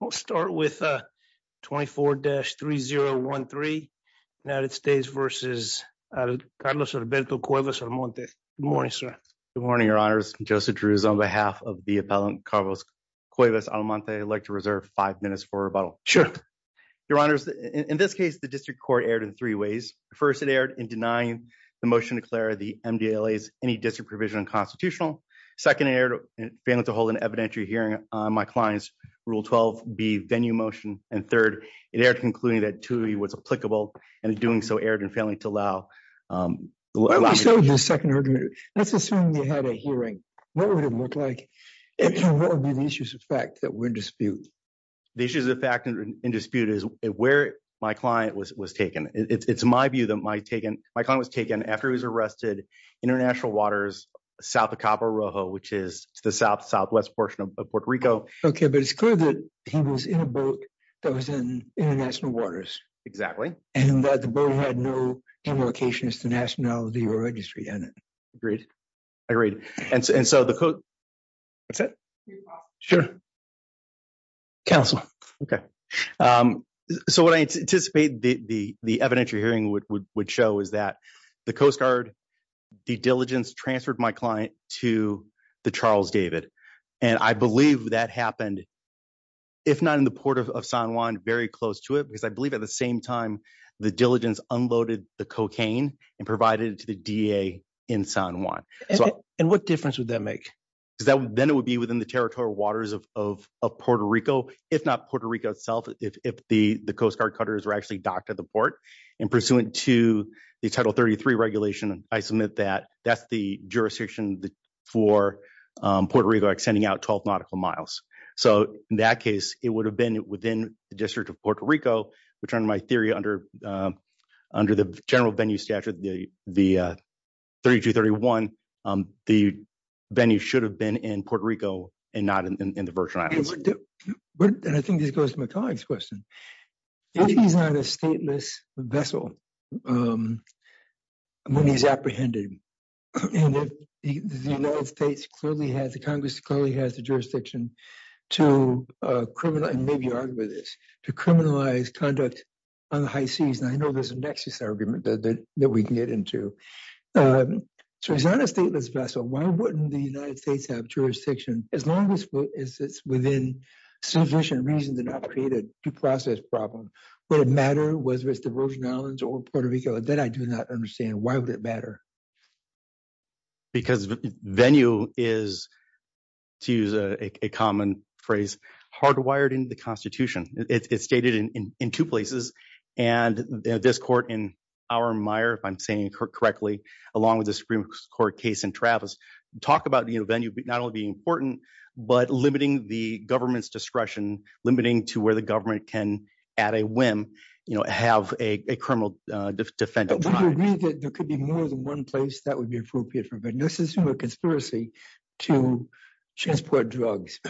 We'll start with 24-3013. United States v. Carlos Alberto Cuevas-Almonte. Good morning, sir. Good morning, your honors. Joseph Drews on behalf of the appellant, Carlos Cuevas-Almonte. I'd like to reserve five minutes for rebuttal. Sure. Your honors, in this case, the district court erred in three ways. First, it erred in denying the motion to declare the MDLAs any district provision unconstitutional. Second, it erred in failing to hold an evidentiary hearing on my client's Rule 12b venue motion. And third, it erred in concluding that duty was applicable and in doing so erred in failing to allow Let's assume you had a hearing. What would it look like? What would be the issues of fact that were disputed? The issues of fact in dispute is where my client was taken. It's my view that my client was taken after he was arrested, International Waters, south of Cabo Rojo, which is the southwest portion of Puerto Rico. Okay, but it's clear that he was in a boat that was in International Waters. Exactly. And that the boat had no invocations to nationality or registry in it. Agreed. Agreed. And so the court... That's it? Sure. Counsel. Okay. So what I anticipate the evidentiary hearing would show is that the Coast Guard, the diligence transferred my client to the Charles David. And I believe that happened, if not in the port of San Juan, very close to it because I believe at the same time, the diligence unloaded the cocaine and provided it to the DA in San Juan. And what difference would that make? Because then it would be within the territorial waters of Puerto Rico, if not Puerto Rico itself, if the Coast Guard cutters were actually docked at the port. And pursuant to the Title 33 regulation, I submit that that's the jurisdiction for Puerto Rico extending out 12 nautical miles. So in that case, it would have been within the District of Puerto Rico, which under my theory, under the general venue statute, the 3231, the venue should have been in Puerto Rico and not in the Virgin Islands. And I think this goes to my colleague's question. If he's not a stateless vessel when he's apprehended, and if the United States clearly has, the Congress clearly has the jurisdiction to criminalize, and maybe argue this, to criminalize conduct on the high seas, and I know there's a nexus argument that we can get into. So he's not a stateless vessel. Why wouldn't the United States have jurisdiction, as long as it's within sufficient reason to not create a due process problem? Would it matter whether it's the Virgin Islands or Puerto Rico? That I do not understand. Why would it matter? Because venue is, to use a common phrase, hardwired into the Constitution. It's stated in two places. And this court in Auermeyer, if I'm saying correctly, along with the Supreme Court case in Travis, talk about venue not only being important, but limiting the government's discretion, limiting to where the government can, at a whim, have a criminal defendant. Would you agree that there could be more than one place that would be appropriate for venue? This is from a conspiracy to transport drugs.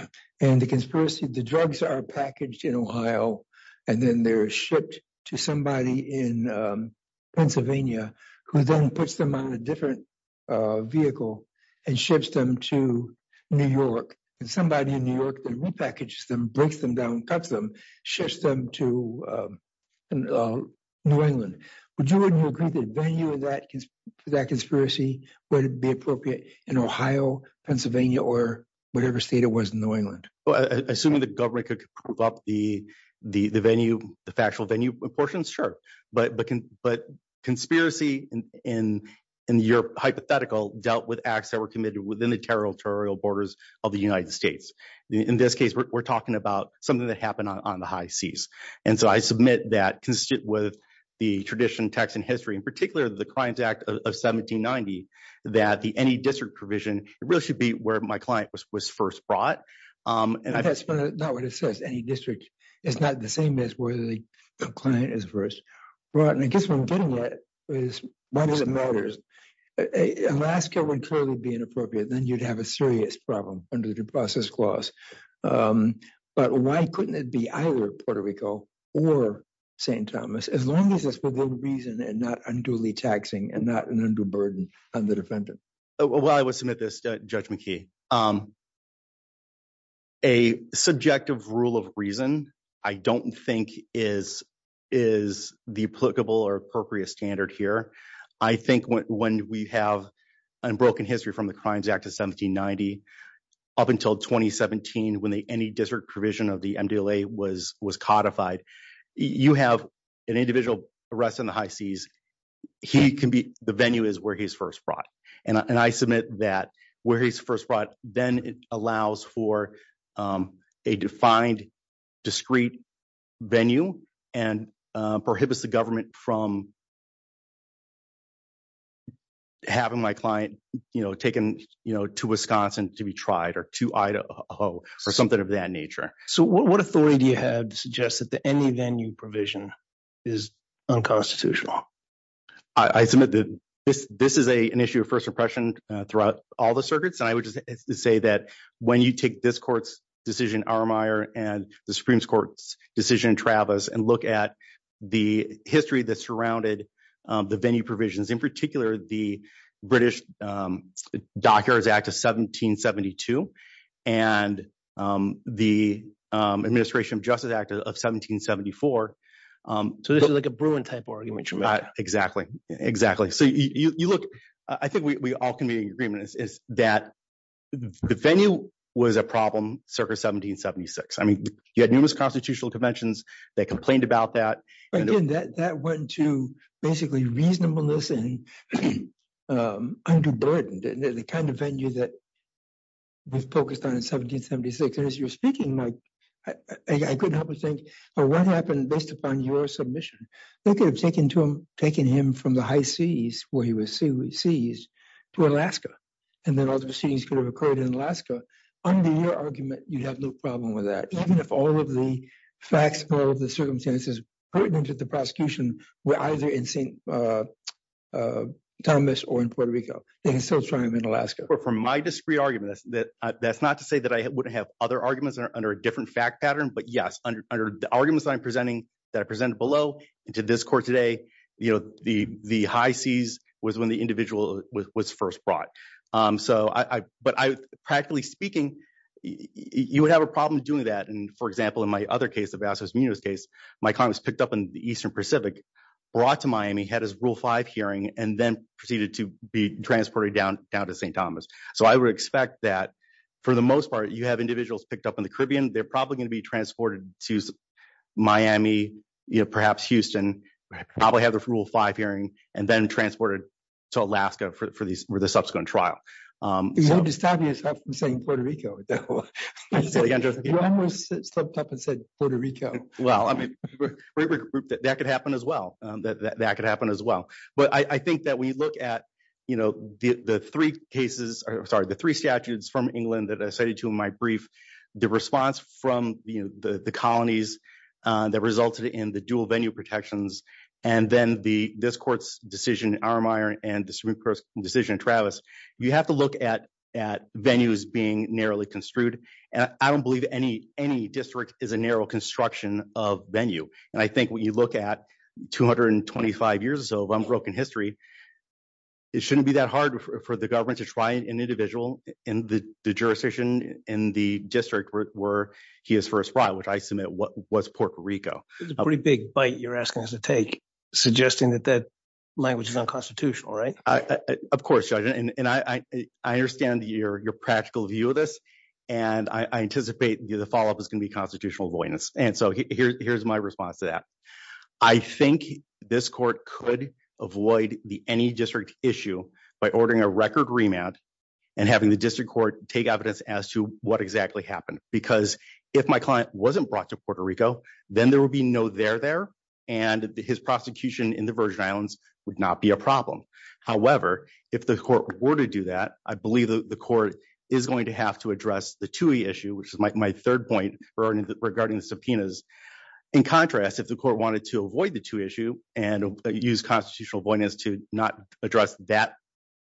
And the conspiracy, the drugs are packaged in Ohio, and then they're shipped to somebody in Pennsylvania, who then puts them on a different vehicle and ships them to New York. And somebody in New York then repackages them, breaks them down, cuts them, ships them to New England. Would you agree that venue for that conspiracy would be appropriate in Ohio, Pennsylvania, or whatever state it was in New England? Well, assuming the government could prove up the venue, the factual venue portions, sure. But conspiracy in the Europe hypothetical dealt with acts that were committed within the territorial borders of the United States. In this case, we're talking about something that happened on the high seas. And so I submit that, consistent with the traditional Texan history, in particular the Crimes Act of 1790, that the any district provision really should be where my client was first brought. That's not what it says, any district. It's not the same as where the client is first brought. And I guess what I'm getting at is, why does it matter? Alaska would clearly be inappropriate. Then you'd have a serious problem under the process clause. But why couldn't it be either Puerto Rico or St. Thomas, as long as it's within reason and not unduly taxing and not an undue burden on the defendant? Well, I would submit this, Judge McKee. A subjective rule of reason, I don't think, is the applicable or appropriate standard here. I think when we have unbroken history from the Crimes Act of 1790 up until 2017, when any district provision of the MDLA was codified, you have an individual arrested on the high seas. The venue is where he's first brought. And I submit that where he's first brought then allows for a defined, discrete venue and prohibits the government from having my client taken to Wisconsin to be tried or to Idaho or something of that nature. So what authority do you have to suggest that the any venue provision is unconstitutional? I submit that this is an issue of first impression throughout all the circuits. And I would just say that when you take this court's decision, Armeier, and the Supreme Court's decision, Travis, and look at the history that surrounded the venue provisions, in particular, the British Dockyards Act of 1772 and the Administration of Justice Act of 1774. So this is like a Bruin type argument. Exactly, exactly. So you look, I think we all can be in agreement is that the venue was a problem circa 1776. I mean, you had numerous constitutional conventions that complained about that. Again, that went to basically reasonableness and underburdened, the kind of venue that was focused on in 1776. And as you're speaking, Mike, I couldn't help but think, well, what happened based upon your submission? They could have taken him from the high seas where he was seized to Alaska. And then all the proceedings could have occurred in Alaska. Under your argument, you have no problem with that. Even if all of the facts, all of the circumstances pertinent to the prosecution were either in St. Thomas or in Puerto Rico, they can still try him in Alaska. Well, from my discrete argument, that's not to say that I wouldn't have other arguments under a different fact pattern. But, yes, under the arguments that I'm presenting, that I presented below and to this court today, you know, the high seas was when the individual was first brought. But practically speaking, you would have a problem doing that. And, for example, in my other case, the Vasquez-Munoz case, my client was picked up in the Eastern Pacific, brought to Miami, had his Rule 5 hearing, and then proceeded to be transported down to St. Thomas. So I would expect that for the most part you have individuals picked up in the Caribbean. They're probably going to be transported to Miami, perhaps Houston, probably have their Rule 5 hearing, and then transported to Alaska for the subsequent trial. You almost stopped me from saying Puerto Rico. You almost stepped up and said Puerto Rico. Well, I mean, that could happen as well. That could happen as well. But I think that when you look at, you know, the three cases, sorry, the three statutes from England that I cited to in my brief, the response from the colonies that resulted in the dual venue protections, and then this court's decision in Armeyer and the Supreme Court's decision in Travis, you have to look at venues being narrowly construed. I don't believe any district is a narrow construction of venue. And I think when you look at 225 years or so of unbroken history, it shouldn't be that hard for the government to try an individual in the jurisdiction in the district where he is first brought, which I submit was Puerto Rico. That's a pretty big bite you're asking us to take, suggesting that that language is unconstitutional, right? Of course, Judge. I understand your practical view of this, and I anticipate the follow up is going to be constitutional avoidance. And so here's my response to that. I think this court could avoid the any district issue by ordering a record remand and having the district court take evidence as to what exactly happened. Because if my client wasn't brought to Puerto Rico, then there will be no there there and his prosecution in the Virgin Islands would not be a problem. However, if the court were to do that, I believe the court is going to have to address the two issue, which is my third point regarding the subpoenas. In contrast, if the court wanted to avoid the two issue and use constitutional avoidance to not address that,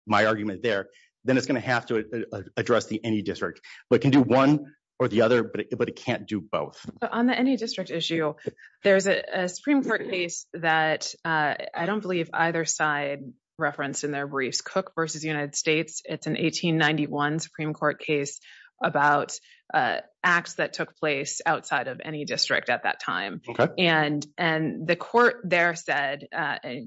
my argument there, then it's going to have to address the any district, but can do one or the other, but it can't do both. On the any district issue, there's a Supreme Court case that I don't believe either side referenced in their briefs Cook versus United States. It's an 1891 Supreme Court case about acts that took place outside of any district at that time. And the court there said,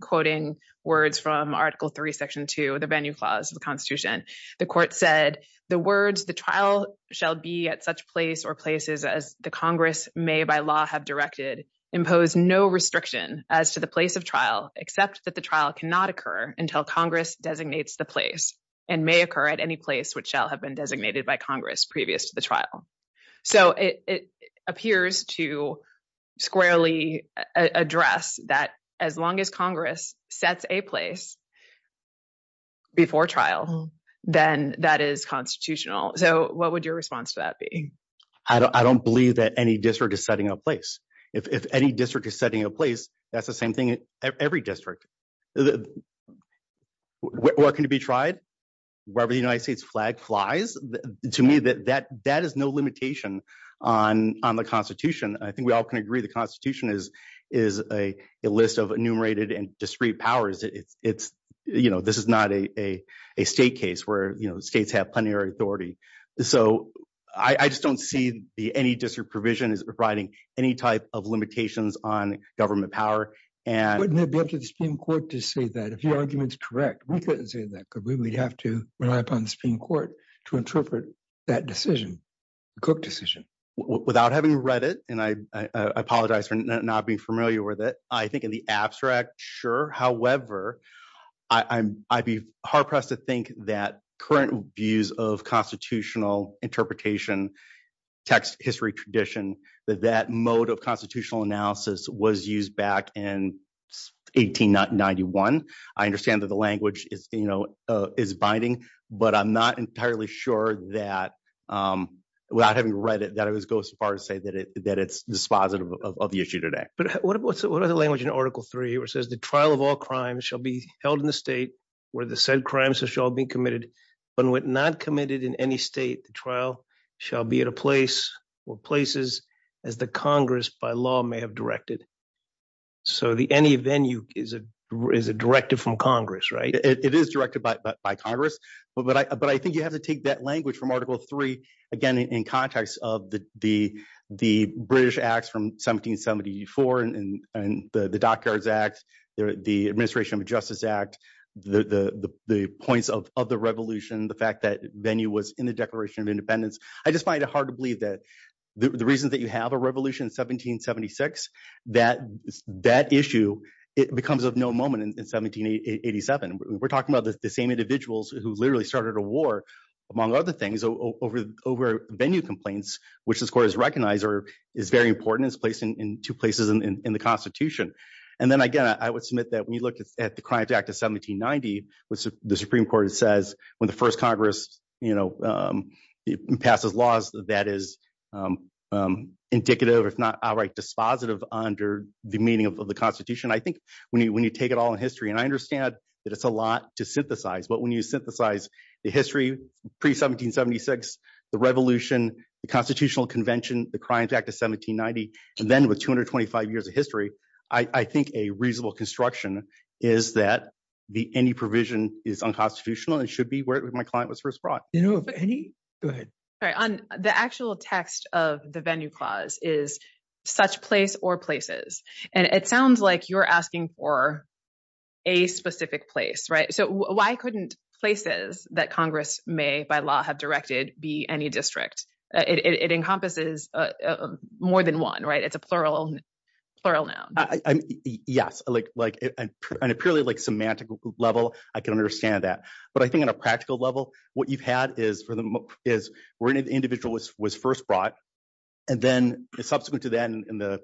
quoting words from Article 3, Section 2, the venue clause of the Constitution, the court said the words the trial shall be at such place or places as the Congress may by law have directed impose no restriction as to the place of trial, except that the trial cannot occur until Congress designates the place and may occur at any place which shall have been designated by Congress previous to the trial. So it appears to squarely address that as long as Congress sets a place before trial, then that is constitutional. So what would your response to that be? I don't believe that any district is setting a place. If any district is setting a place, that's the same thing at every district. What can be tried wherever the United States flag flies? To me, that is no limitation on the Constitution. I think we all can agree the Constitution is a list of enumerated and discrete powers. It's, you know, this is not a state case where states have plenary authority. So I just don't see any district provision as providing any type of limitations on government power. Wouldn't it be up to the Supreme Court to say that? If your argument is correct, we couldn't say that, could we? We'd have to rely upon the Supreme Court to interpret that decision, the Cook decision. Without having read it, and I apologize for not being familiar with it, I think in the abstract, sure. However, I'd be hard pressed to think that current views of constitutional interpretation, text, history, tradition, that that mode of constitutional analysis was used back in 1891. I understand that the language is binding, but I'm not entirely sure that, without having read it, that I would go so far as to say that it's dispositive of the issue today. But what about the language in Article 3, which says the trial of all crimes shall be held in the state where the said crimes shall be committed. When not committed in any state, the trial shall be at a place or places as the Congress by law may have directed. So the any venue is a directive from Congress, right? It is directed by Congress. But I think you have to take that language from Article 3, again, in context of the British Acts from 1774 and the Dockyards Act, the Administration of Justice Act, the points of the Revolution, the fact that venue was in the Declaration of Independence. I just find it hard to believe that the reasons that you have a revolution in 1776, that issue, it becomes of no moment in 1787. We're talking about the same individuals who literally started a war, among other things, over venue complaints, which this Court has recognized or is very important and is placed in two places in the Constitution. And then, again, I would submit that when you look at the Crimes Act of 1790, the Supreme Court says when the first Congress passes laws, that is indicative, if not outright dispositive under the meaning of the Constitution. I think when you take it all in history, and I understand that it's a lot to synthesize. But when you synthesize the history pre-1776, the Revolution, the Constitutional Convention, the Crimes Act of 1790, and then with 225 years of history, I think a reasonable construction is that any provision is unconstitutional and should be where my client was first brought. Go ahead. The actual text of the venue clause is such place or places. And it sounds like you're asking for a specific place, right? So why couldn't places that Congress may by law have directed be any district? It encompasses more than one, right? It's a plural noun. Yes. On a purely semantic level, I can understand that. But I think on a practical level, what you've had is where an individual was first brought, and then subsequent to that in the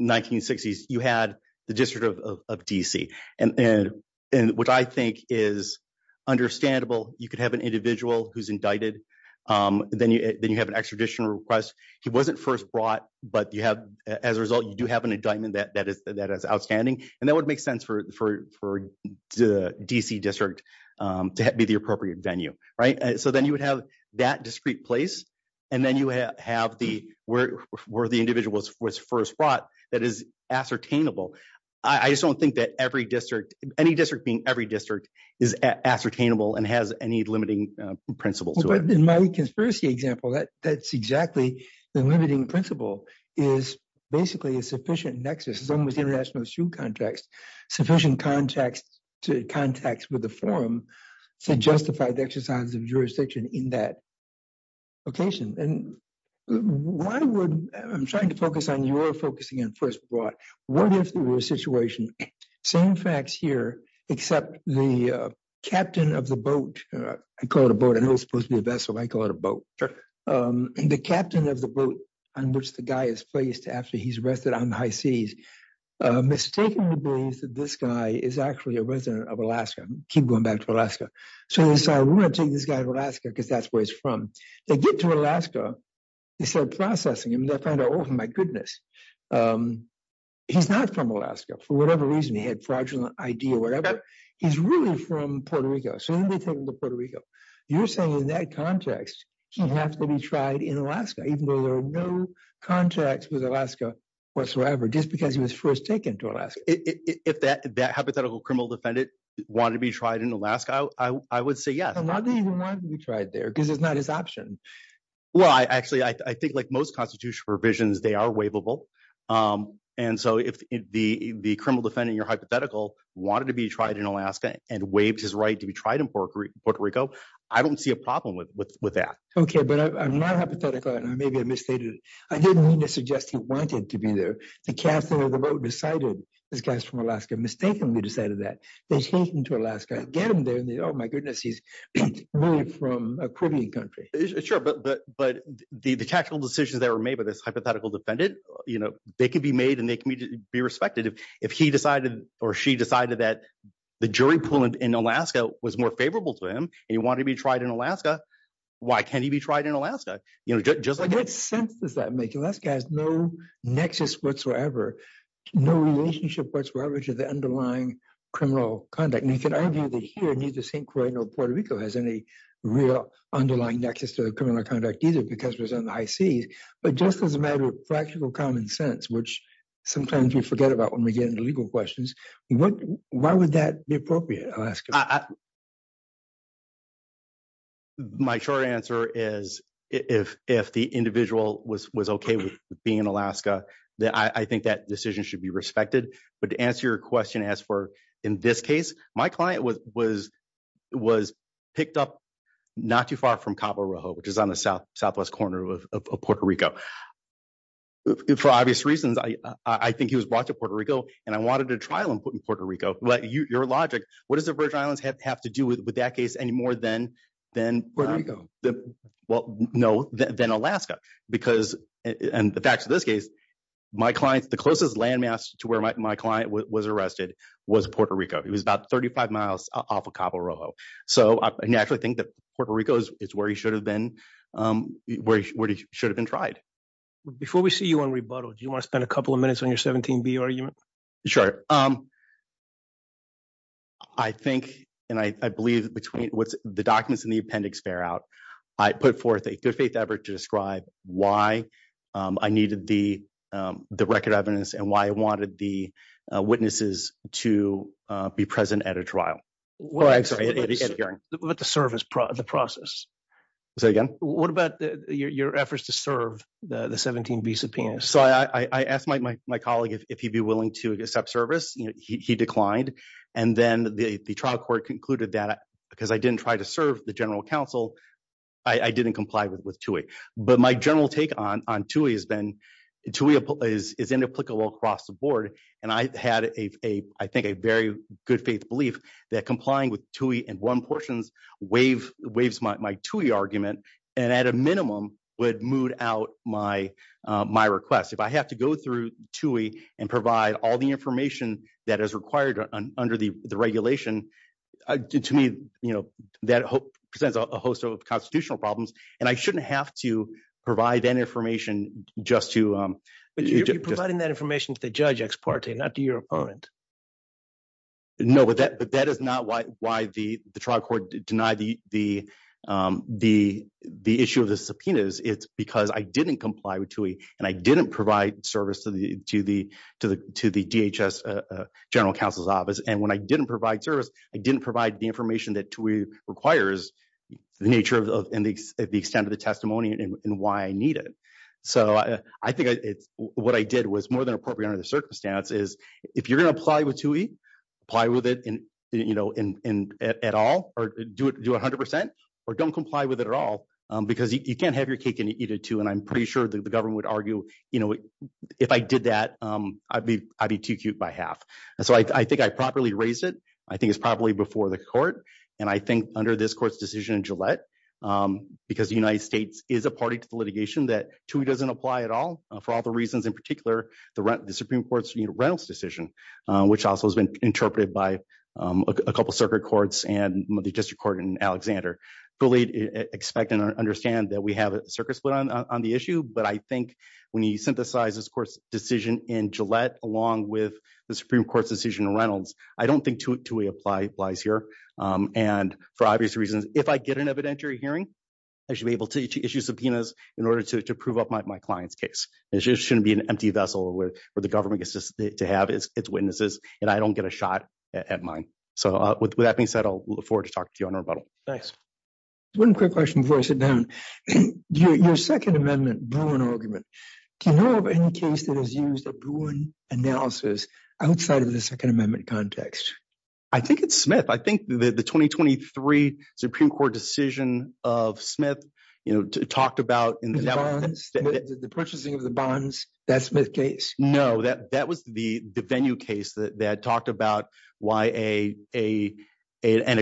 1960s, you had the District of D.C. And what I think is understandable, you could have an individual who's indicted, then you have an extradition request. He wasn't first brought, but as a result, you do have an indictment that is outstanding. And that would make sense for the D.C. District to be the appropriate venue, right? So then you would have that discrete place, and then you have where the individual was first brought. That is ascertainable. I just don't think that any district being every district is ascertainable and has any limiting principles. In my conspiracy example, that's exactly the limiting principle is basically a sufficient nexus. As long as the international issue context, sufficient context to context with the forum to justify the exercise of jurisdiction in that location. And why would I'm trying to focus on your focusing on first brought. What if there were a situation, same facts here, except the captain of the boat. I call it a boat. I know it's supposed to be a vessel. I call it a boat. The captain of the boat on which the guy is placed after he's rested on the high seas mistakenly believes that this guy is actually a resident of Alaska. Keep going back to Alaska. So we're going to take this guy to Alaska because that's where he's from. They get to Alaska. They start processing him. Oh, my goodness. He's not from Alaska. For whatever reason, he had fraudulent idea. Whatever. He's really from Puerto Rico. So then they take him to Puerto Rico. You're saying in that context, he has to be tried in Alaska, even though there are no contacts with Alaska whatsoever, just because he was first taken to Alaska. If that hypothetical criminal defendant wanted to be tried in Alaska, I would say yes. I don't think he wanted to be tried there because it's not his option. Well, actually, I think like most constitutional provisions, they are waivable. And so if the criminal defendant, your hypothetical, wanted to be tried in Alaska and waived his right to be tried in Puerto Rico, I don't see a problem with that. Okay, but I'm not hypothetical. Maybe I misstated. I didn't mean to suggest he wanted to be there. The captain of the boat decided this guy's from Alaska, mistakenly decided that. Get him there. Oh, my goodness. He's really from a Caribbean country. But the tactical decisions that were made by this hypothetical defendant, they can be made and they can be respected. If he decided or she decided that the jury pool in Alaska was more favorable to him and he wanted to be tried in Alaska, why can't he be tried in Alaska? Just like that. What sense does that make? Alaska has no nexus whatsoever, no relationship whatsoever to the underlying criminal conduct. And you can argue that here, neither St. Croix nor Puerto Rico has any real underlying nexus to the criminal conduct either because it was in the high seas. But just as a matter of practical common sense, which sometimes we forget about when we get into legal questions, why would that be appropriate? My short answer is if the individual was OK with being in Alaska, I think that decision should be respected. But to answer your question, as for in this case, my client was picked up not too far from Cabo Rojo, which is on the southwest corner of Puerto Rico. For obvious reasons, I think he was brought to Puerto Rico and I wanted to trial him in Puerto Rico. Your logic, what does the Virgin Islands have to do with that case any more than Alaska? Because in the facts of this case, the closest landmass to where my client was arrested was Puerto Rico. He was about 35 miles off of Cabo Rojo. So I actually think that Puerto Rico is where he should have been tried. Before we see you on rebuttal, do you want to spend a couple of minutes on your 17B argument? I think and I believe between what the documents in the appendix bear out, I put forth a good faith effort to describe why I needed the record evidence and why I wanted the witnesses to be present at a trial. Well, I'm sorry. But the service, the process. Say again? What about your efforts to serve the 17B subpoenas? So I asked my colleague if he'd be willing to accept service. He declined. And then the trial court concluded that because I didn't try to serve the general counsel, I didn't comply with TUI. But my general take on TUI has been TUI is inapplicable across the board. And I had, I think, a very good faith belief that complying with TUI in one portions waives my TUI argument and at a minimum would moot out my request. If I have to go through TUI and provide all the information that is required under the regulation, to me, you know, that presents a host of constitutional problems. And I shouldn't have to provide that information just to. But you're providing that information to the judge ex parte, not to your opponent. No, but that is not why the trial court denied the issue of the subpoenas. It's because I didn't comply with TUI and I didn't provide service to the DHS general counsel's office. And when I didn't provide service, I didn't provide the information that TUI requires, the nature and the extent of the testimony and why I need it. So I think it's what I did was more than appropriate under the circumstance is if you're going to apply with TUI, apply with it, you know, at all or do it 100 percent or don't comply with it at all because you can't have your cake and eat it too. And I'm pretty sure that the government would argue, you know, if I did that, I'd be too cute by half. So I think I properly raised it. I think it's probably before the court. And I think under this court's decision, Gillette, because the United States is a party to the litigation that TUI doesn't apply at all for all the reasons, in particular, the Supreme Court's Reynolds decision, which also has been interpreted by a couple circuit courts and the district court in Alexander, fully expect and understand that we have a circuit split on the issue. But I think when you synthesize this court's decision in Gillette, along with the Supreme Court's decision in Reynolds, I don't think TUI applies here. And for obvious reasons, if I get an evidentiary hearing, I should be able to issue subpoenas in order to prove up my client's case. It just shouldn't be an empty vessel where the government gets to have its witnesses and I don't get a shot at mine. So with that being said, I'll look forward to talking to you on rebuttal. Thanks. One quick question before I sit down. Your Second Amendment Bruin argument. Do you know of any case that has used a Bruin analysis outside of the Second Amendment context? I think it's Smith. I think the 2023 Supreme Court decision of Smith, you know, talked about the purchasing of the bonds. That's Smith case. No, that was the venue case that talked about why an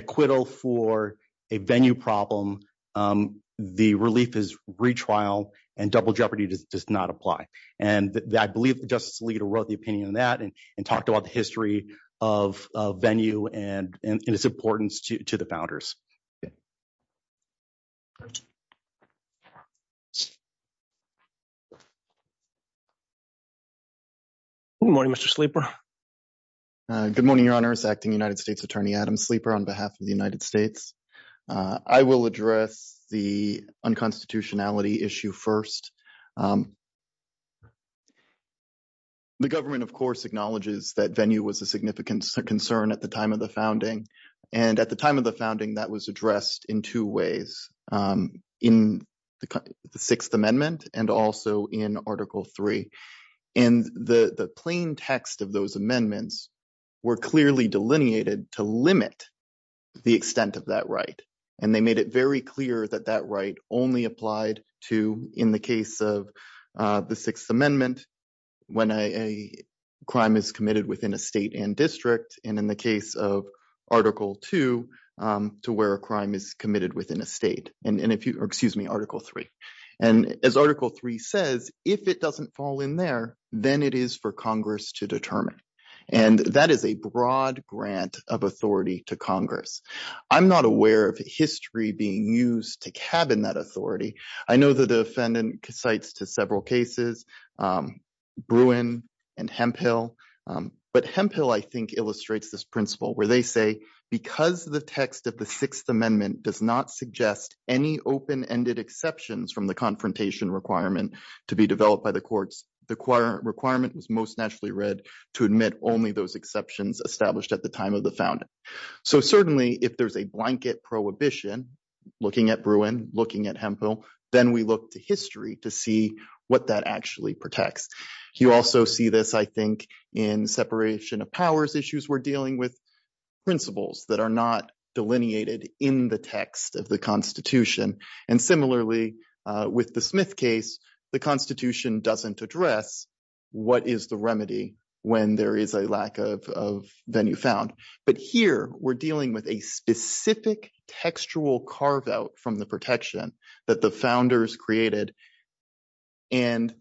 acquittal for a venue problem, the relief is retrial and double jeopardy does not apply. And I believe Justice Alito wrote the opinion on that and talked about the history of venue and its importance to the founders. Good morning, Mr. Sleeper. Good morning, Your Honors. Acting United States Attorney Adam Sleeper on behalf of the United States. I will address the unconstitutionality issue first. The government, of course, acknowledges that venue was a significant concern at the time of the founding. And at the time of the founding, that was addressed in two ways in the Sixth Amendment and also in Article three. And the plain text of those amendments were clearly delineated to limit the extent of that right. And they made it very clear that that right only applied to in the case of the Sixth Amendment when a crime is committed within a state and district. And in the case of Article two, to where a crime is committed within a state. And if you excuse me, Article three. And as Article three says, if it doesn't fall in there, then it is for Congress to determine. And that is a broad grant of authority to Congress. I'm not aware of history being used to cabin that authority. I know the defendant cites to several cases, Bruin and Hemphill. But Hemphill, I think, illustrates this principle where they say because the text of the Sixth Amendment does not suggest any open ended exceptions from the confrontation requirement to be developed by the courts. The requirement was most naturally read to admit only those exceptions established at the time of the founding. So certainly if there's a blanket prohibition, looking at Bruin, looking at Hemphill, then we look to history to see what that actually protects. You also see this, I think, in separation of powers issues. We're dealing with principles that are not delineated in the text of the Constitution. And similarly, with the Smith case, the Constitution doesn't address what is the remedy when there is a lack of venue found. But here we're dealing with a specific textual carve out from the protection that the founders created. And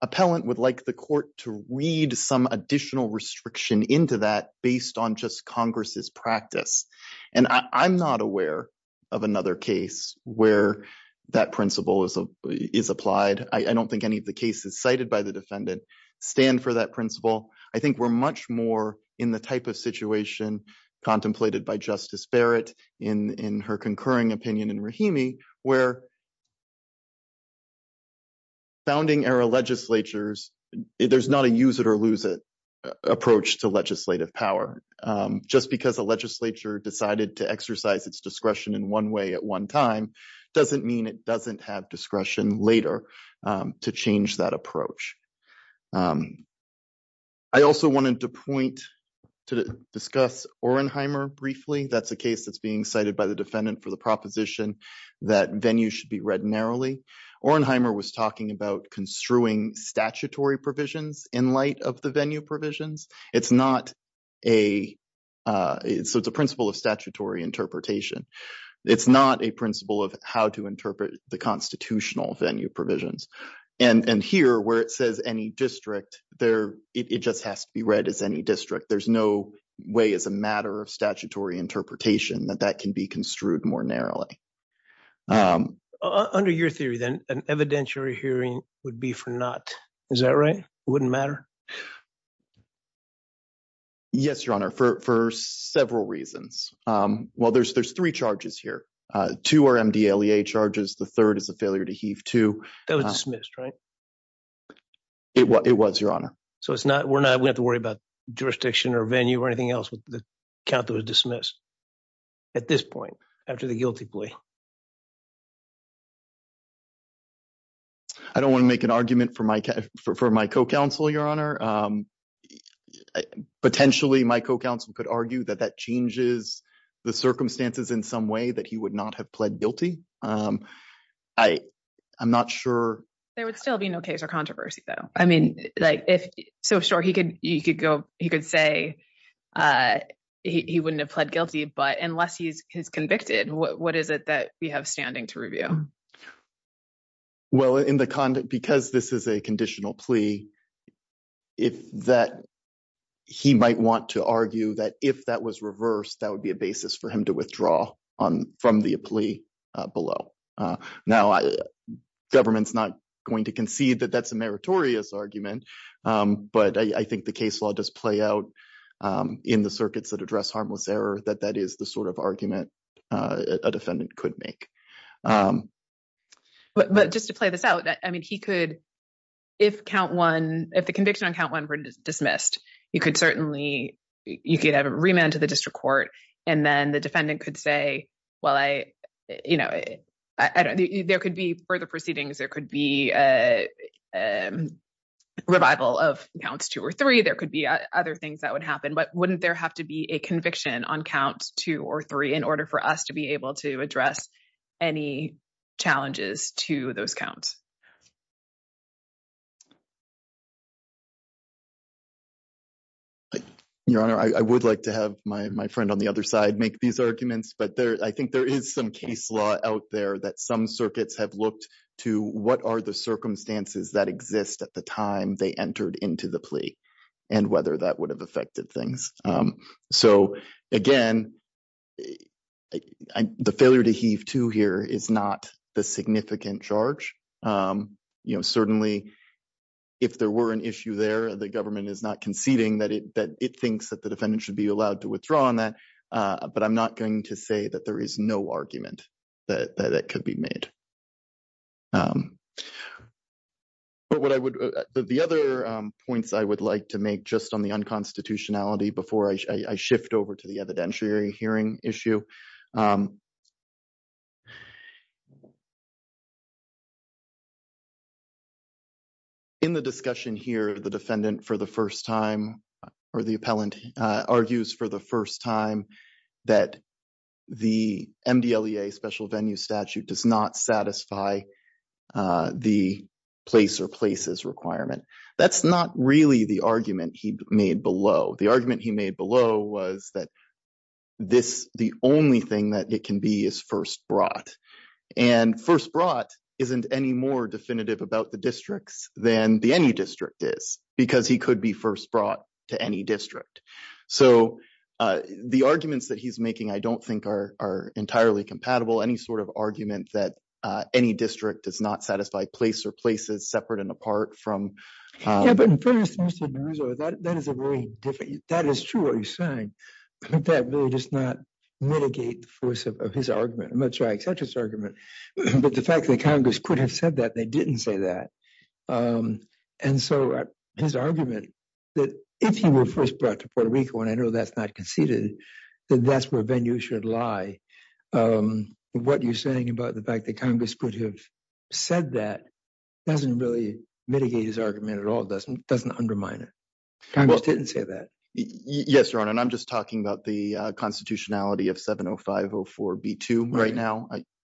appellant would like the court to read some additional restriction into that based on just Congress's practice. And I'm not aware of another case where that principle is applied. I don't think any of the cases cited by the defendant stand for that principle. I think we're much more in the type of situation contemplated by Justice Barrett in her concurring opinion in Rahimi where. Founding era legislatures, there's not a use it or lose it approach to legislative power just because the legislature decided to exercise its discretion in one way at one time doesn't mean it doesn't have discretion later to change that approach. I also wanted to point to discuss Orenheimer briefly. That's a case that's being cited by the defendant for the proposition that venue should be read narrowly. Orenheimer was talking about construing statutory provisions in light of the venue provisions. It's not a it's a principle of statutory interpretation. It's not a principle of how to interpret the constitutional venue provisions and here where it says any district there, it just has to be read as any district. There's no way as a matter of statutory interpretation that that can be construed more narrowly under your theory. Then an evidentiary hearing would be for not. Is that right? Wouldn't matter. Yes, your honor for several reasons. Well, there's there's three charges here to our charges. The 3rd is a failure to heave to that was dismissed, right? It was it was your honor. So, it's not we're not we have to worry about jurisdiction or venue or anything else with the count that was dismissed. At this point, after the guilty plea, I don't want to make an argument for my for my co counsel, your honor. Potentially, my co counsel could argue that that changes the circumstances in some way that he would not have pled guilty. I, I'm not sure there would still be no case or controversy, though. I mean, like, if so sure he could, you could go, he could say he wouldn't have pled guilty. But unless he's convicted, what is it that we have standing to review? Well, in the conduct, because this is a conditional plea. If that he might want to argue that if that was reversed, that would be a basis for him to withdraw on from the plea below now, government's not going to concede that that's a meritorious argument. But I think the case law does play out in the circuits that address harmless error that that is the sort of argument a defendant could make. But just to play this out, I mean, he could. If count 1, if the conviction on count 1 were dismissed, you could certainly, you could have a remand to the district court and then the defendant could say, well, I, you know, there could be further proceedings. There could be a revival of counts 2 or 3. There could be other things that would happen. But wouldn't there have to be a conviction on count 2 or 3 in order for us to be able to address any challenges to those counts? Your honor, I would like to have my friend on the other side, make these arguments, but there I think there is some case law out there that some circuits have looked to what are the circumstances that exist at the time they entered into the plea and whether that would have affected things. So, again, the failure to heave to here is not the significant charge. Certainly, if there were an issue there, the government is not conceding that it thinks that the defendant should be allowed to withdraw on that. But I'm not going to say that there is no argument that that could be made. But what I would the other points I would like to make just on the unconstitutionality before I shift over to the evidentiary hearing issue. In the discussion here, the defendant for the 1st time, or the appellant argues for the 1st time that the special venue statute does not satisfy the place or places requirement. That's not really the argument he made below the argument he made below was that. This the only thing that it can be is 1st brought and 1st brought isn't any more definitive about the districts than the any district is because he could be 1st brought to any district. So, the arguments that he's making, I don't think are are entirely compatible. Any sort of argument that any district does not satisfy place or places separate and apart from. Yeah, but that is a very different. That is true. Are you saying that really does not mitigate the force of his argument? I'm not sure I accept his argument, but the fact that Congress could have said that they didn't say that. And so his argument that if he were 1st brought to Puerto Rico, and I know that's not conceded that that's where venue should lie. What you're saying about the fact that Congress could have said that doesn't really mitigate his argument at all. Doesn't doesn't undermine it. I didn't say that. Yes, your honor and I'm just talking about the constitutionality of 70504 B2 right now.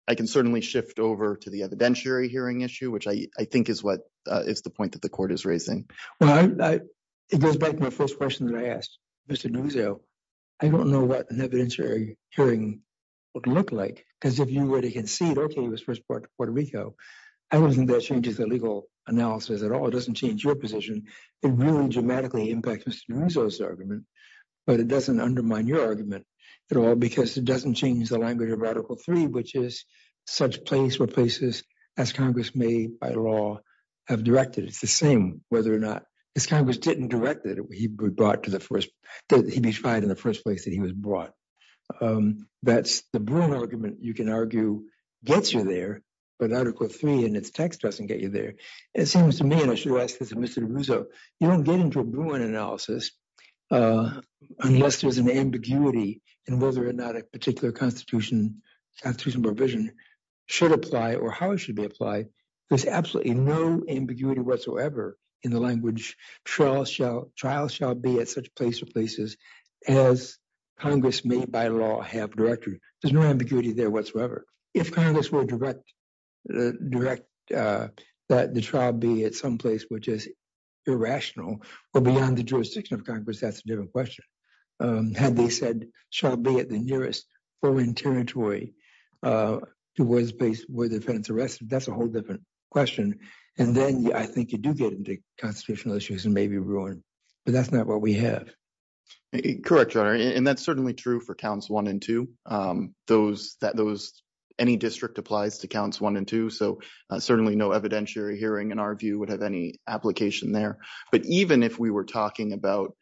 I can certainly shift over to the evidentiary hearing issue, which I think is what is the point that the court is raising. It goes back to my 1st question that I asked. Mr. I don't know what an evidentiary hearing. Look like, because if you were to concede, okay, it was 1st part of Puerto Rico. I wasn't that changes the legal analysis at all. It doesn't change your position. It's the same, whether or not it's Congress didn't direct it. He brought to the 1st, he tried in the 1st place that he was brought. That's the argument you can argue gets you there, but article 3 and its text doesn't get you there. It seems to me, and I should ask this and Mr. You don't get into an analysis unless there's an ambiguity and whether or not a particular constitution provision should apply or how it should be applied. There's absolutely no ambiguity whatsoever in the language trial shall trial shall be at such places as Congress may by law have directory. There's no ambiguity there whatsoever. If Congress were direct. Direct that the trial be at some place, which is. Irrational or beyond the jurisdiction of Congress, that's a different question. Had they said, shall be at the nearest foreign territory was based where the defense arrested. That's a whole different question. And then I think you do get into constitutional issues and maybe ruin. But that's not what we have correct. And that's certainly true for counts 1 and 2, those that those any district applies to counts 1 and 2. So, certainly no evidentiary hearing in our view would have any application there. But even if we were talking about.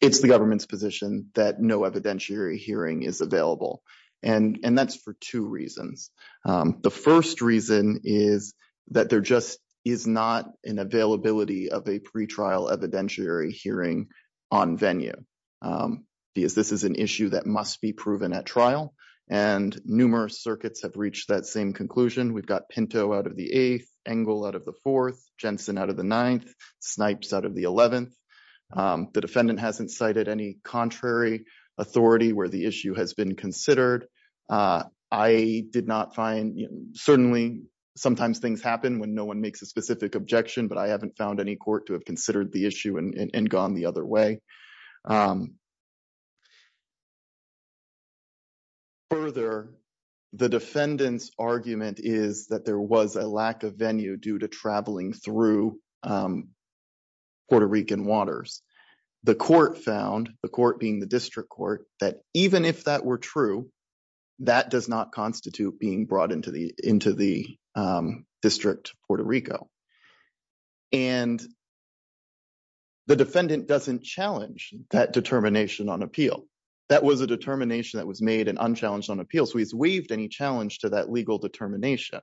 It's the government's position that no evidentiary hearing is available and that's for 2 reasons. The 1st reason is that there just is not an availability of a pretrial evidentiary hearing. I did not find certainly sometimes things happen when no 1 makes a specific objection, but I haven't found any court to have considered the issue and gone the other way. Further, the defendants argument is that there was a lack of venue due to traveling through. Puerto Rican waters, the court found the court being the district court that even if that were true. That does not constitute being brought into the, into the district Puerto Rico. And the defendant doesn't challenge that determination on appeal. That was a determination that was made and unchallenged on appeal. So he's waived any challenge to that legal determination.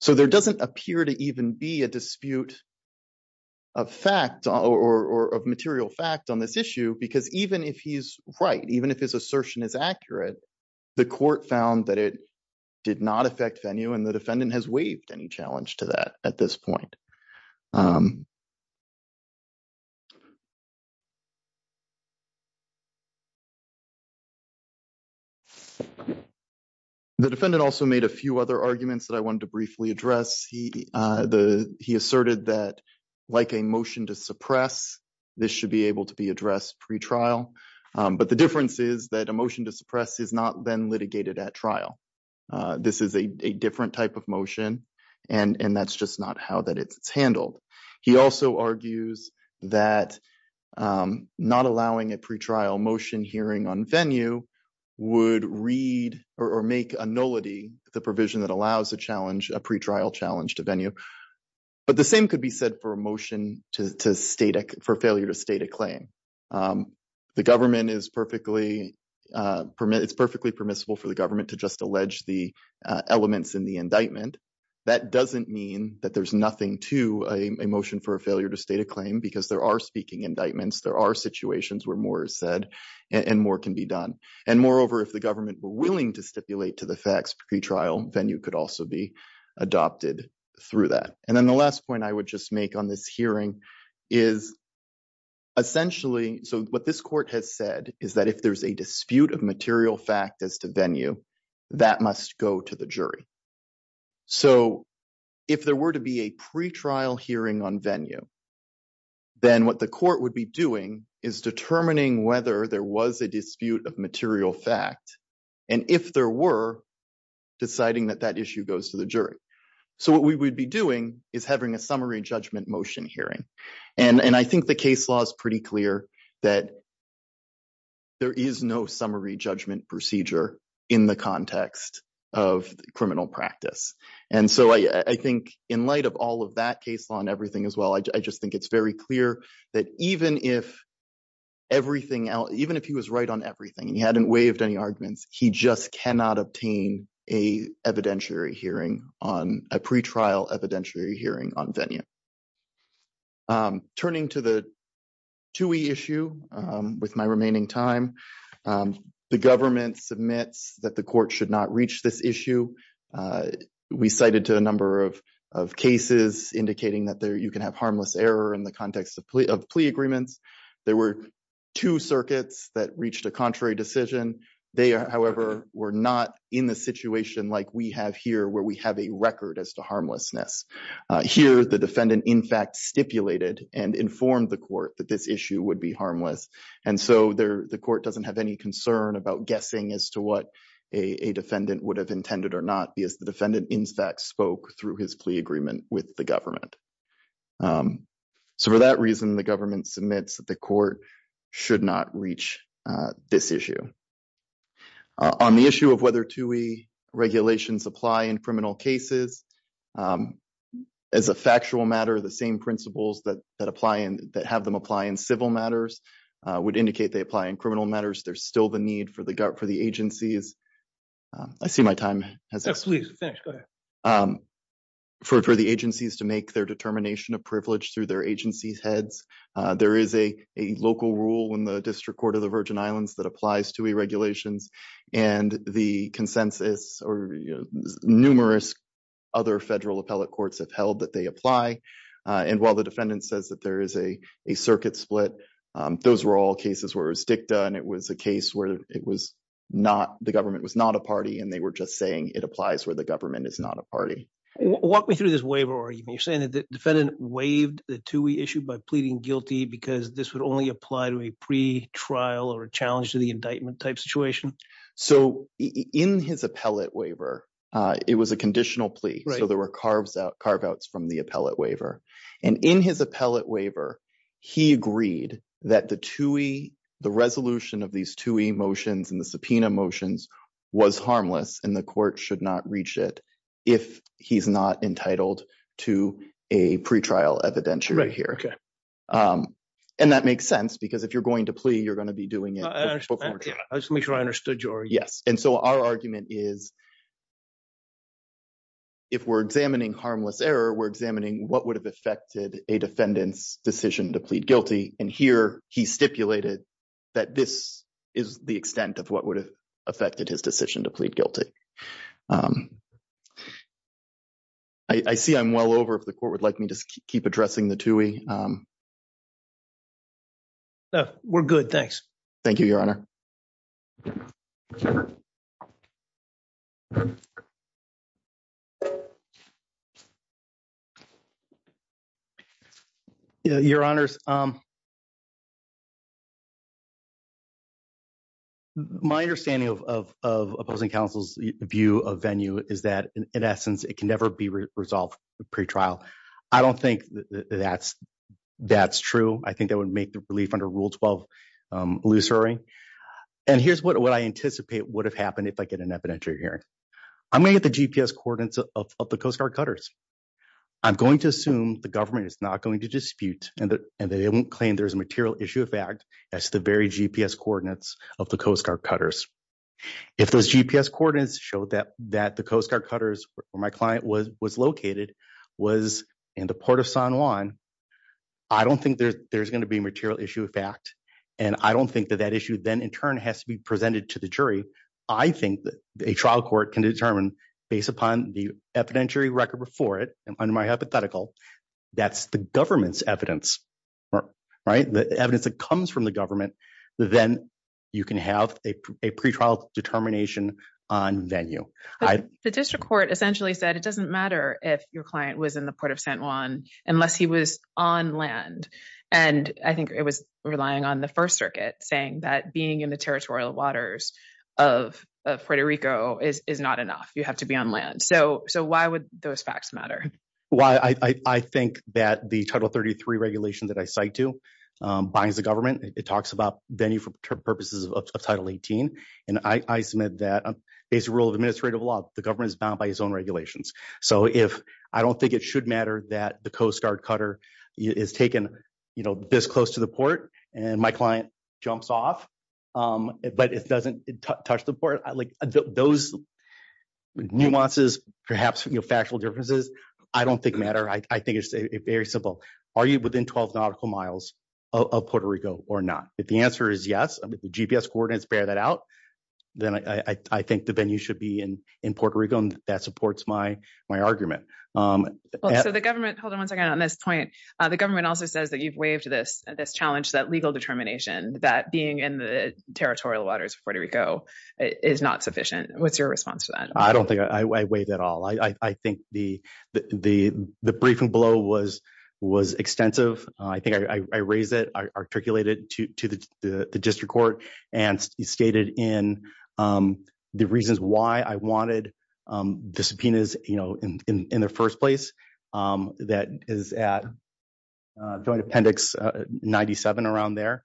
So, there doesn't appear to even be a dispute. Of fact, or of material fact on this issue, because even if he's right, even if his assertion is accurate. The court found that it did not affect venue and the defendant has waived any challenge to that at this point. The defendant also made a few other arguments that I wanted to briefly address. He, the, he asserted that, like, a motion to suppress this should be able to be addressed pre trial. But the difference is that emotion to suppress is not been litigated at trial. This is a different type of motion, and that's just not how that it's handled. He also argues that not allowing a pre trial motion hearing on venue would read or make a nullity the provision that allows a challenge a pre trial challenge to venue. But the same could be said for emotion to state for failure to state a claim. The government is perfectly permitted. It's perfectly permissible for the government to just allege the elements in the indictment. That doesn't mean that there's nothing to a motion for a failure to state a claim because there are speaking indictments. There are situations where more said, and more can be done. And moreover, if the government were willing to stipulate to the facts, pre trial venue could also be adopted through that. And then the last point I would just make on this hearing is. Essentially, so what this court has said is that if there's a dispute of material fact as to venue, that must go to the jury. So, if there were to be a pre trial hearing on venue, then what the court would be doing is determining whether there was a dispute of material fact. And if there were deciding that that issue goes to the jury, so what we would be doing is having a summary judgment motion hearing. And I think the case law is pretty clear that. There is no summary judgment procedure in the context of criminal practice. And so I think in light of all of that case on everything as well, I just think it's very clear that even if. Everything else, even if he was right on everything, he hadn't waived any arguments. He just cannot obtain a evidentiary hearing on a pre trial evidentiary hearing on venue. Turning to the 2 issue with my remaining time, the government submits that the court should not reach this issue. We cited to a number of of cases, indicating that there you can have harmless error in the context of plea agreements. There were 2 circuits that reached a contrary decision. They are, however, we're not in the situation like we have here where we have a record as to harmlessness here. The defendant, in fact, stipulated and informed the court that this issue would be harmless. And so there, the court doesn't have any concern about guessing as to what a defendant would have intended or not be as the defendant in fact, spoke through his plea agreement with the government. So, for that reason, the government submits that the court should not reach this issue. On the issue of whether to we regulations apply in criminal cases. As a factual matter, the same principles that that apply and that have them apply in civil matters would indicate they apply in criminal matters. There's still the need for the guard for the agencies. I see my time. Thanks for the agencies to make their determination of privilege through their agencies heads. There is a local rule in the district court of the Virgin Islands that applies to regulations and the consensus or numerous. Other federal appellate courts have held that they apply and while the defendant says that there is a circuit split, those were all cases where stick done. It was a case where it was not the government was not a party and they were just saying it applies where the government is not a party. Walk me through this waiver. You're saying that the defendant waived the 2 issue by pleading guilty because this would only apply to a pre trial or a challenge to the indictment type situation. So, in his appellate waiver, it was a conditional plea. So there were carves out carve outs from the appellate waiver. And in his appellate waiver, he agreed that the to the resolution of these 2 emotions and the subpoena motions was harmless and the court should not reach it. And so, our argument is. If we're examining harmless error, we're examining what would have affected a defendant's decision to plead guilty. And here he stipulated that this is the extent of what would have affected his decision to plead guilty. I see I'm well over if the court would like me to keep addressing the 2 way. We're good. Thanks. Thank you. Your honor. Your honors. My understanding of of of opposing counsel's view of venue is that, in essence, it can never be resolved pre trial. I don't think that's that's true. I think that would make the relief under rule 12. And here's what what I anticipate would have happened if I get an evidentiary here. I'm going to assume the government is not going to dispute and that and they don't claim there's a material issue of fact, that's the very GPS coordinates of the Coast Guard cutters. If those GPS coordinates show that that the Coast Guard cutters where my client was was located was in the port of San Juan. I don't think there's going to be material issue of fact, and I don't think that that issue then in turn has to be presented to the jury. I think that a trial court can determine based upon the evidentiary record before it. And under my hypothetical, that's the government's evidence. Right. The evidence that comes from the government, then you can have a pre trial determination on venue. The district court essentially said it doesn't matter if your client was in the port of San Juan unless he was on land. And I think it was relying on the First Circuit saying that being in the territorial waters of Puerto Rico is not enough. You have to be on land. So so why would those facts matter? Well, I think that the Title 33 regulation that I cite to binds the government. It talks about venue for purposes of Title 18. And I submit that based rule of administrative law, the government is bound by his own regulations. So if I don't think it should matter that the Coast Guard cutter is taken this close to the port and my client jumps off, but it doesn't touch the port. I like those nuances, perhaps factual differences. I don't think matter. I think it's very simple. Are you within 12 nautical miles of Puerto Rico or not? If the answer is yes, the GPS coordinates bear that out, then I think the venue should be in in Puerto Rico. And that supports my my argument. So the government. Hold on one second on this point. The government also says that you've waived this this challenge, that legal determination, that being in the territorial waters of Puerto Rico is not sufficient. What's your response to that? I don't think I wait at all. I think the the the briefing below was was extensive. I think I raised it. I articulated it to the district court and stated in the reasons why I wanted the subpoenas in the first place. That is at Appendix 97 around there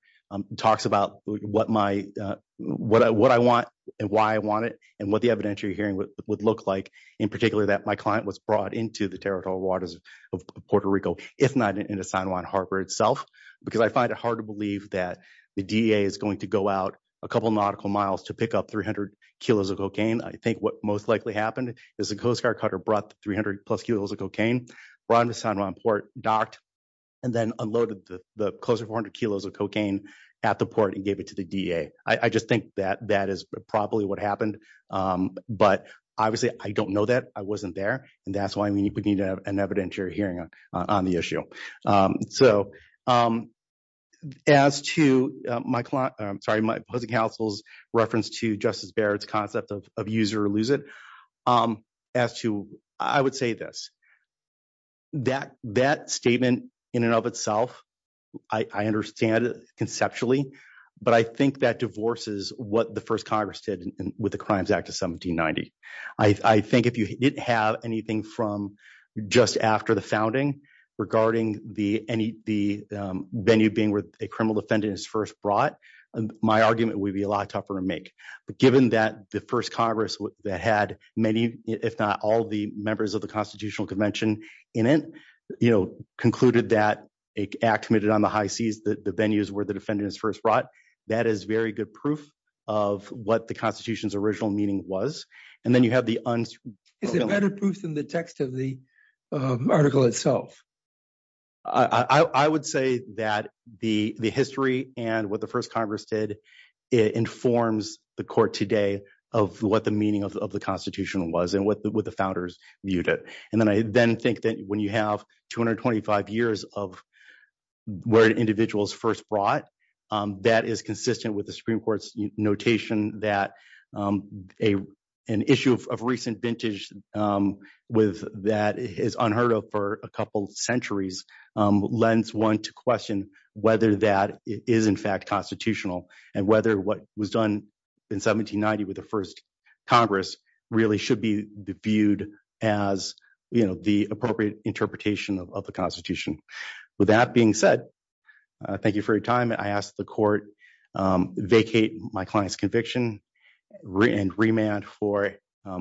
talks about what my what I what I want and why I want it and what the evidentiary hearing would look like. In particular, that my client was brought into the territorial waters of Puerto Rico, if not in the San Juan Harbor itself, because I find it hard to believe that the is going to go out a couple of nautical miles to pick up 300 kilos of cocaine. I think what most likely happened is the Coast Guard cutter brought 300 plus kilos of cocaine, run the San Juan port docked. And then unloaded the closer 400 kilos of cocaine at the port and gave it to the D.A. I just think that that is probably what happened. But obviously, I don't know that I wasn't there. And that's why we need to have an evidentiary hearing on the issue. So as to my client, I'm sorry. I just want to say, I just want to say my opposing counsel's reference to Justice Barrett's concept of user elusive as to I would say this, that that statement in and of itself. I understand it conceptually, but I think that divorces what the first Congress did with the Crimes Act of 1790. I think if you didn't have anything from just after the founding regarding the any the venue being with a criminal defendant is first brought, my argument would be a lot tougher to make. But given that the first Congress that had many, if not all the members of the Constitutional Convention in it, you know, concluded that act committed on the high seas, that the venues where the defendant is first brought. That that is very good proof of what the Constitution's original meaning was. And then you have the. Is it better proof than the text of the article itself? I would say that the the history and what the first Congress did informs the court today of what the meaning of the Constitution was and what the founders viewed it. And then I then think that when you have 225 years of where individuals first brought that is consistent with the Supreme Court's notation that a an issue of recent vintage with that is unheard of for a couple of centuries. And so I think that the first Congress lends one to question whether that is, in fact, constitutional and whether what was done in 1790 with the first Congress really should be viewed as the appropriate interpretation of the Constitution. Thank you for your time. I asked the court vacate my client's conviction and remand for a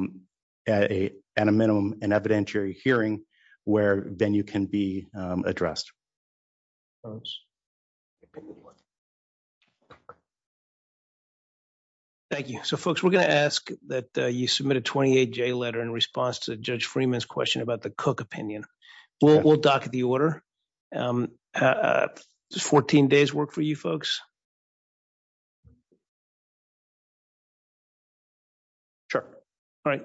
minimum and evidentiary hearing where then you can be addressed. Those. Thank you. So, folks, we're going to ask that you submit a 28 day letter in response to Judge Freeman's question about the Cook opinion. We'll dock the order. 14 days work for you, folks. Sure. All right. Thanks.